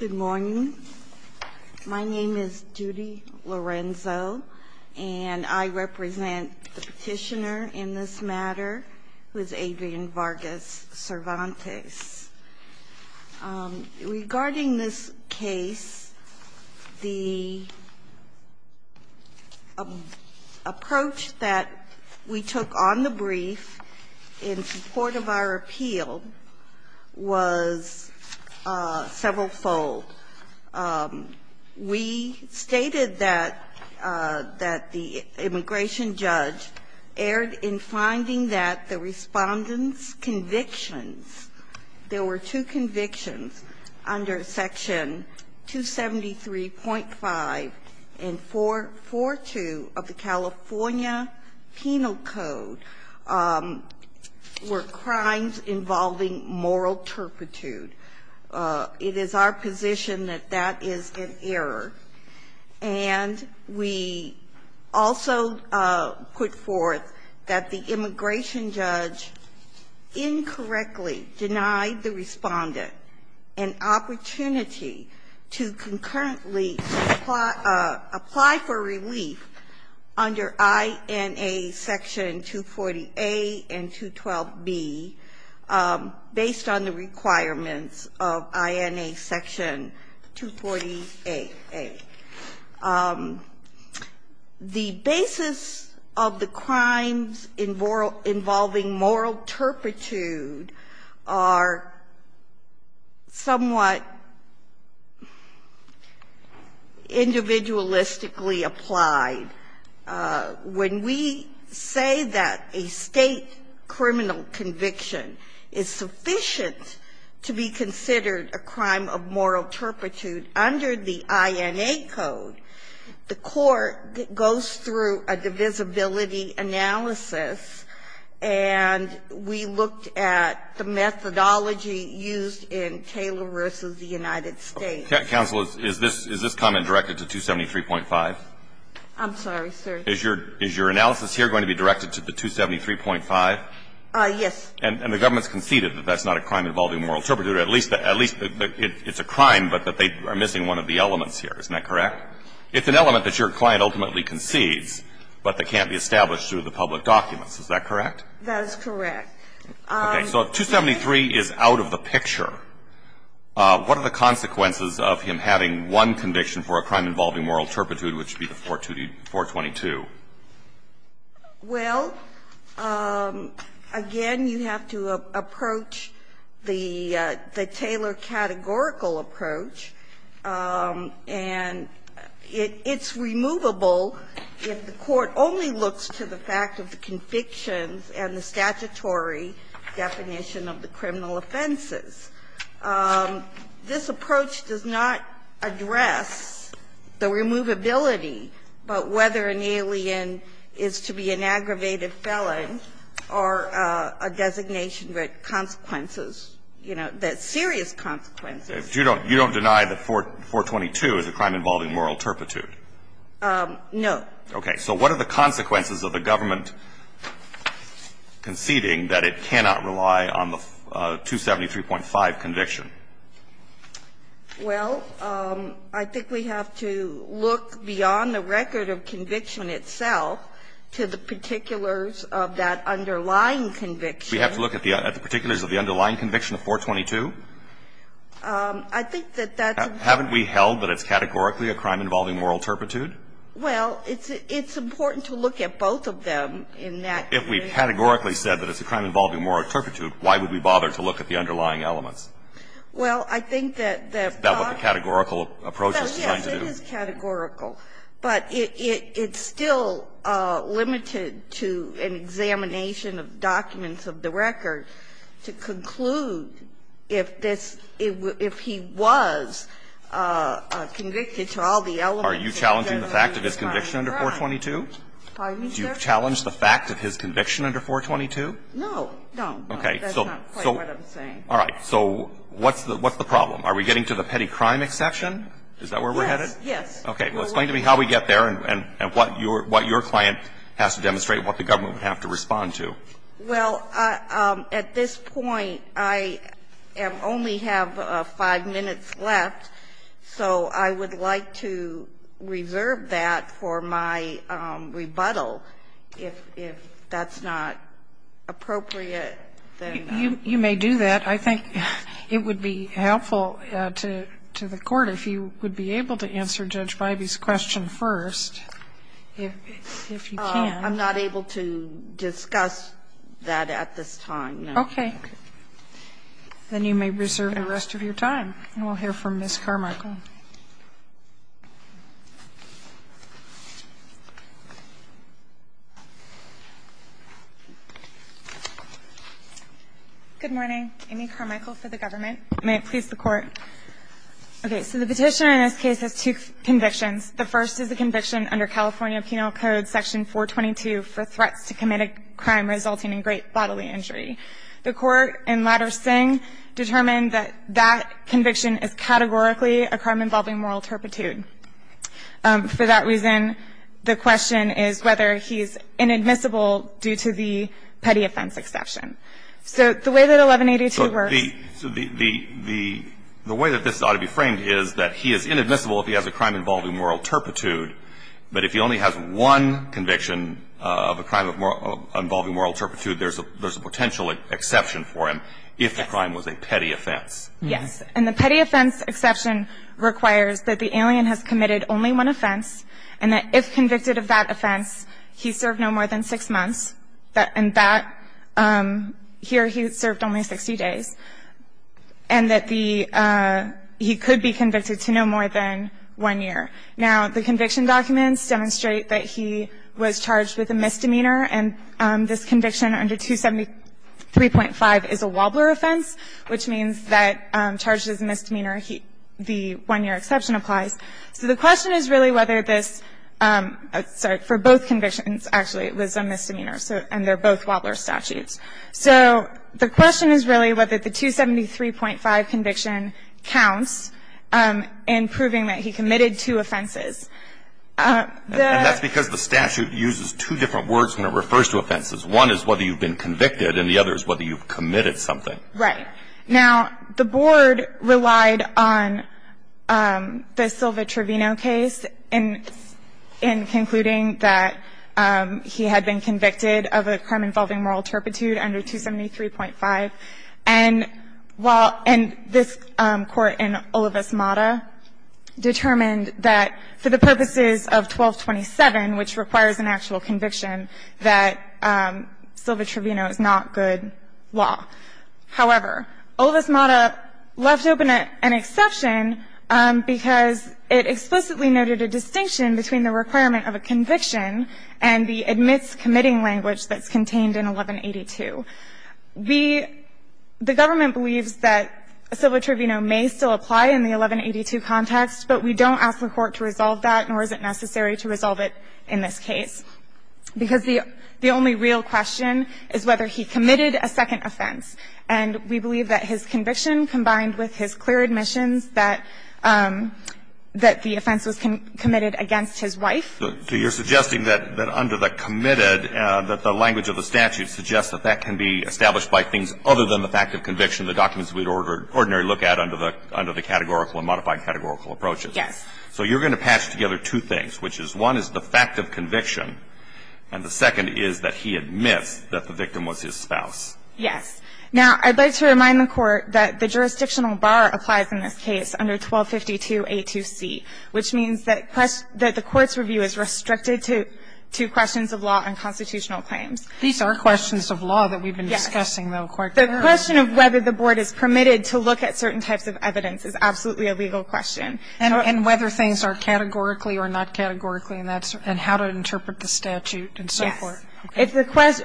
Good morning. My name is Judy Lorenzo, and I represent the petitioner in this matter, who is Adrian Vargas Cervantes. Regarding this case, the approach that we took on the brief in support of our appeal was several-fold. We stated that the immigration judge erred in finding that the Respondent's convictions, there were two convictions under Section 273.5 and 442 of the California Penal Code, were crimes involving moral turpitude. It is our position that that is an error. And we also put forth that the immigration judge incorrectly denied the Respondent an opportunity to concurrently apply for relief under INA Section 240A and 212B, based on the requirements of INA Section 240A. The basis of the crimes involving moral turpitude are somewhat individualistically applied. When we say that a State criminal conviction is sufficient to be considered a crime of moral turpitude under the INA Code, the Court goes through a divisibility analysis, and we looked at the methodology used in Taylor v. the United States. used in the United States. Counsel, is this comment directed to 273.5? I'm sorry, sir. Is your analysis here going to be directed to the 273.5? Yes. And the government has conceded that that's not a crime involving moral turpitude, at least that it's a crime, but that they are missing one of the elements here. Isn't that correct? It's an element that your client ultimately concedes, but that can't be established through the public documents. Is that correct? That is correct. Okay. So if 273 is out of the picture, what are the consequences of him having one conviction for a crime involving moral turpitude, which would be the 422? Well, again, you have to approach the Taylor categorical approach. And it's removable if the Court only looks to the fact of the convictions and the statutory definition of the criminal offenses. This approach does not address the removability, but whether an alien is to be an aggravated felon or a designation with consequences, you know, serious consequences. You don't deny that 422 is a crime involving moral turpitude? No. Okay. So what are the consequences of the government conceding that it cannot rely on the 273.5 conviction? Well, I think we have to look beyond the record of conviction itself to the particulars of that underlying conviction. We have to look at the particulars of the underlying conviction of 422? I think that that's important. Haven't we held that it's categorically a crime involving moral turpitude? Well, it's important to look at both of them in that way. If we categorically said that it's a crime involving moral turpitude, why would we bother to look at the underlying elements? Well, I think that that's not what the categorical approach is trying to do. Yes, it is categorical. But it's still limited to an examination of documents of the record to conclude if this, if he was convicted to all the elements. Are you challenging the fact of his conviction under 422? Pardon me, sir? Do you challenge the fact of his conviction under 422? No, no. Okay. That's not quite what I'm saying. All right. So what's the problem? Are we getting to the petty crime exception? Is that where we're headed? Yes, yes. Okay. Well, explain to me how we get there and what your client has to demonstrate and what the government would have to respond to. Well, at this point, I only have five minutes left, so I would like to reserve that for my rebuttal if that's not appropriate. You may do that. I think it would be helpful to the Court if you would be able to answer Judge Bybee's question first, if you can. I'm not able to discuss that at this time. Okay. Then you may reserve the rest of your time. And we'll hear from Ms. Carmichael. Good morning. Amy Carmichael for the government. May it please the Court. Okay. So the petition in this case has two convictions. The first is a conviction under California Penal Code, Section 422, for threats to commit a crime resulting in great bodily injury. The Court and Ladder-Singh determined that that conviction is categorically across the board. 422, for a crime involving moral turpitude. For that reason, the question is whether he is inadmissible due to the petty offense exception. So the way that 1182 works. So the way that this ought to be framed is that he is inadmissible if he has a crime involving moral turpitude, but if he only has one conviction of a crime involving moral turpitude, there's a potential exception for him if the crime was a petty offense. Yes. And the petty offense exception requires that the alien has committed only one offense, and that if convicted of that offense, he served no more than six months, and that here he served only 60 days, and that he could be convicted to no more than one year. Now, the conviction documents demonstrate that he was charged with a misdemeanor, and this conviction under 273.5 is a Wobbler offense, which means that charged as a misdemeanor, the one-year exception applies. So the question is really whether this – sorry, for both convictions, actually, it was a misdemeanor, and they're both Wobbler statutes. So the question is really whether the 273.5 conviction counts in proving that he committed two offenses. And that's because the statute uses two different words when it refers to offenses. One is whether you've been convicted, and the other is whether you've committed something. Right. Now, the Board relied on the Silva-Trevino case in concluding that he had been convicted of a crime involving moral turpitude under 273.5. And while – and this Court in Olivas-Mata determined that for the purposes of 1227, which requires an actual conviction, that Silva-Trevino is not good law. However, Olivas-Mata left open an exception because it explicitly noted a distinction between the requirement of a conviction and the admits committing language that's contained in 1182. We – the government believes that Silva-Trevino may still apply in the 1182 context, but we don't ask the Court to resolve that, nor is it necessary to resolve it in this case, because the only real question is whether he committed a second offense. And we believe that his conviction, combined with his clear admissions, that the offense was committed against his wife. So you're suggesting that under the committed, that the language of the statute suggests that that can be established by things other than the fact of conviction, the documents we would ordinarily look at under the categorical and modified categorical approaches. Yes. So you're going to patch together two things, which is one is the fact of conviction, and the second is that he admits that the victim was his spouse. Yes. Now, I'd like to remind the Court that the jurisdictional bar applies in this case under 1252a2c, which means that the Court's review is restricted to questions of law and constitutional claims. These are questions of law that we've been discussing, though, quite clearly. Yes. The question of whether the Board is permitted to look at certain types of evidence is absolutely a legal question. And whether things are categorically or not categorically, and that's how to interpret the statute and so forth. Yes.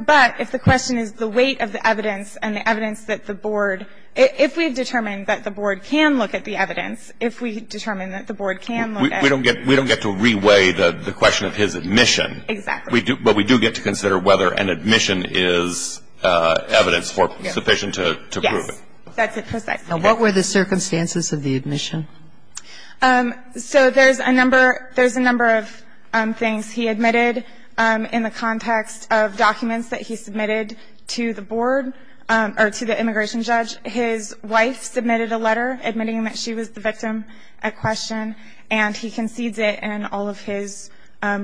But if the question is the weight of the evidence and the evidence that the Board If we determine that the Board can look at the evidence, if we determine that the Board can look at it. We don't get to reweigh the question of his admission. Exactly. But we do get to consider whether an admission is evidence sufficient to prove it. Yes. That's it precisely. Now, what were the circumstances of the admission? So there's a number of things. He admitted in the context of documents that he submitted to the Board or to the immigration judge. His wife submitted a letter admitting that she was the victim at question, and he concedes it in all of his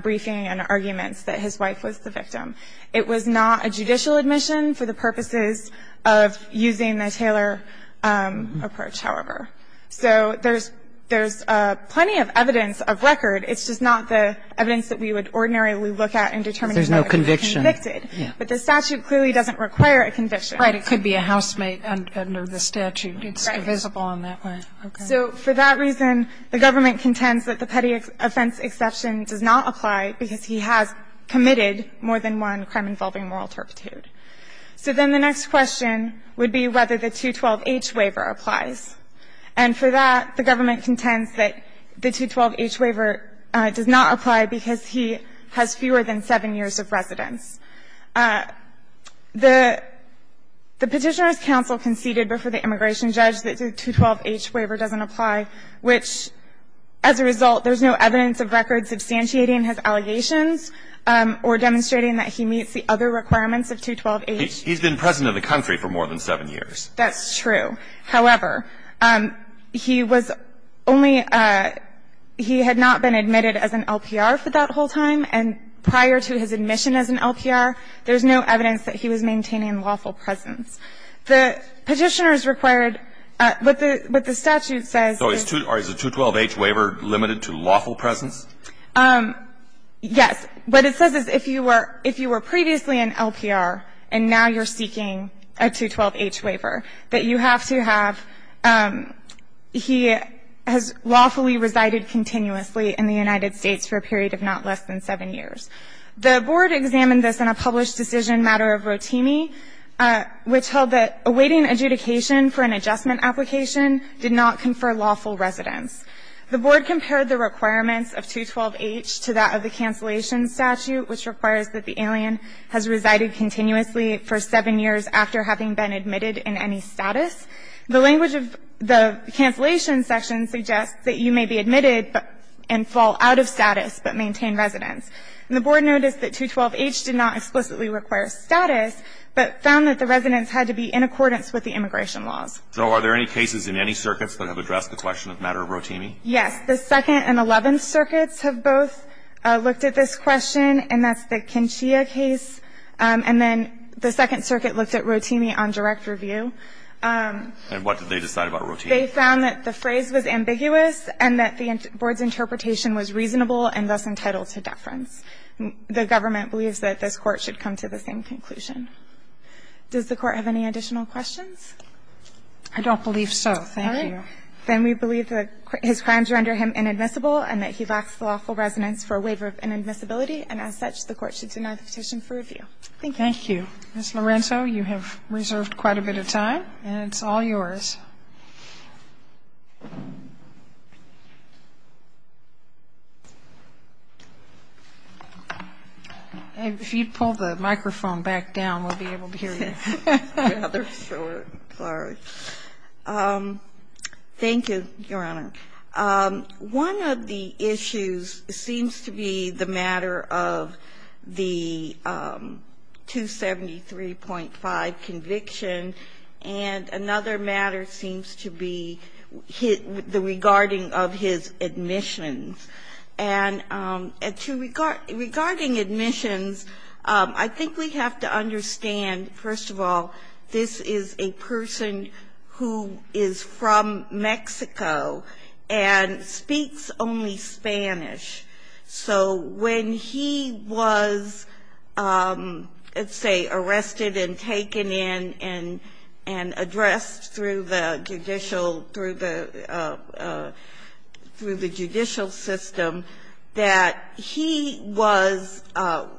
briefing and arguments that his wife was the victim. It was not a judicial admission for the purposes of using the Taylor approach, however. So there's plenty of evidence of record. It's just not the evidence that we would ordinarily look at in determining whether he was convicted. There's no conviction. But the statute clearly doesn't require a conviction. Right. It could be a housemate under the statute. Right. It's divisible in that way. Okay. So for that reason, the government contends that the petty offense exception does not apply because he has committed more than one crime-involving moral turpitude. So then the next question would be whether the 212H waiver applies. And for that, the government contends that the 212H waiver does not apply because he has fewer than seven years of residence. The Petitioner's Counsel conceded before the immigration judge that the 212H waiver doesn't apply, which, as a result, there's no evidence of record substantiating his allegations or demonstrating that he meets the other requirements of 212H. He's been present in the country for more than seven years. That's true. However, he was only he had not been admitted as an LPR for that whole time. And prior to his admission as an LPR, there's no evidence that he was maintaining lawful presence. The Petitioner's required what the statute says is. So is the 212H waiver limited to lawful presence? Yes. What it says is if you were previously an LPR and now you're seeking a 212H waiver, that you have to have he has lawfully resided continuously in the United States for a period of not less than seven years. The board examined this in a published decision matter of Rotimi, which held that awaiting adjudication for an adjustment application did not confer lawful residence. The board compared the requirements of 212H to that of the cancellation statute, which requires that the alien has resided continuously for seven years after having been admitted in any status. The language of the cancellation section suggests that you may be admitted and fall out of status, but maintain residence. And the board noticed that 212H did not explicitly require status, but found that the residence had to be in accordance with the immigration laws. So are there any cases in any circuits that have addressed the question of matter of Rotimi? Yes. The Second and Eleventh Circuits have both looked at this question, and that's the Kinshia case. And then the Second Circuit looked at Rotimi on direct review. And what did they decide about Rotimi? They found that the phrase was ambiguous and that the board's interpretation was reasonable and thus entitled to deference. The government believes that this Court should come to the same conclusion. Does the Court have any additional questions? I don't believe so. Thank you. All right. Then we believe that his crimes render him inadmissible and that he lacks lawful residence for a waiver of inadmissibility. And as such, the Court should deny the petition for review. Thank you. Thank you. Ms. Lorenzo, you have reserved quite a bit of time, and it's all yours. If you'd pull the microphone back down, we'll be able to hear you rather short. Sorry. Thank you, Your Honor. One of the issues seems to be the matter of the 273.5 conviction and another matter seems to be the regarding of his admissions. And regarding admissions, I think we have to understand, first of all, this is a person who is from Mexico and speaks only Spanish. So when he was, let's say, arrested and taken in and addressed through the judicial system, that he was,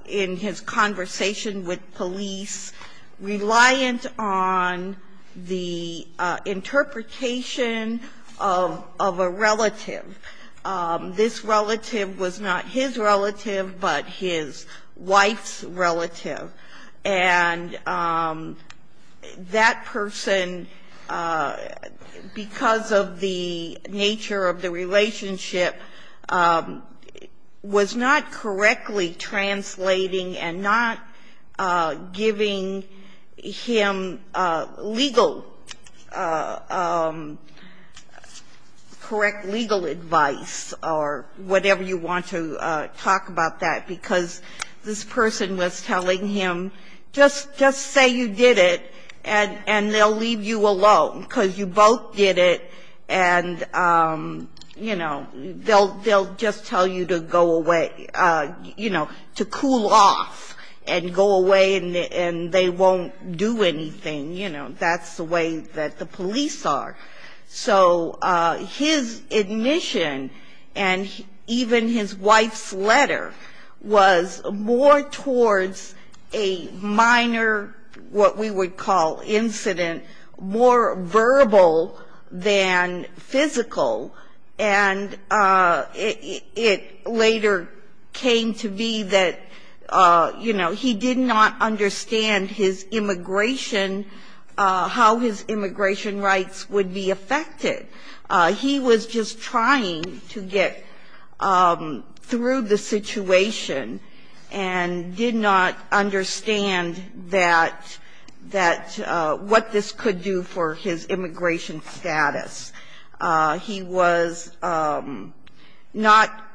in his conversation with police, reliant on the interpretation of a relative. This relative was not his relative, but his wife's relative. And that person, because of the nature of the relationship, was not correctly translating and not giving him legal ---- correct legalism. And I'm not going to give you advice or whatever you want to talk about that, because this person was telling him, just say you did it, and they'll leave you alone, because you both did it, and, you know, they'll just tell you to go away, you know, to cool off and go away, and they won't do anything. You know, that's the way that the police are. So his admission and even his wife's letter was more towards a minor, what we would call incident, more verbal than physical. And it later came to be that, you know, he did not understand his immigration, how his immigration rights would be used. He was just trying to get through the situation and did not understand that what this could do for his immigration status. He was not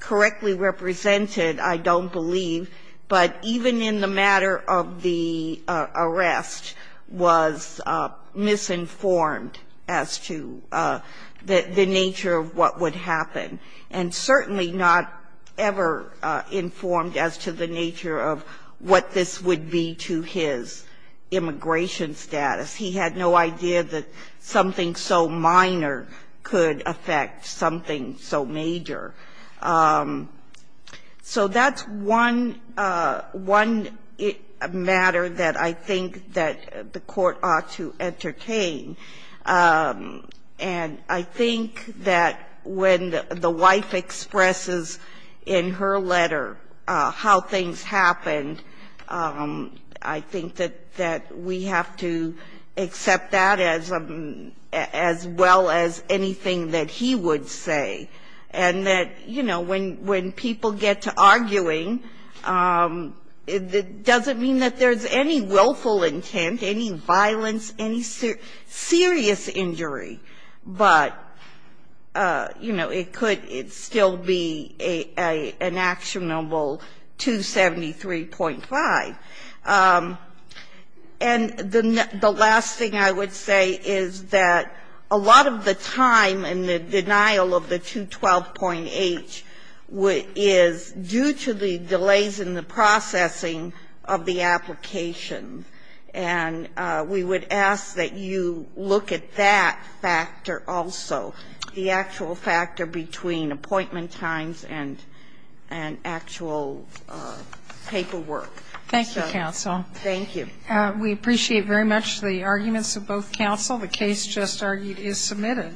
correctly represented, I don't believe, but even in the matter of the arrest was misinformed. And certainly not ever informed as to the nature of what this would be to his immigration status. He had no idea that something so minor could affect something so major. So that's one ---- one matter that I think that the Court ought to entertain. And I think that when the wife expresses in her letter how things happened, I think that we have to accept that as well as anything that he would say. And that, you know, when people get to arguing, it doesn't mean that there's any willful intent, any violence, any serious injury, but, you know, it could still be an actionable 273.5. And the last thing I would say is that a lot of the time and the denial of the 212.8 is due to the delays in the processing of the application. And we would ask that you look at that factor also, the actual factor between appointment times and actual paperwork. Thank you, counsel. Thank you. We appreciate very much the arguments of both counsel. The case just argued is submitted.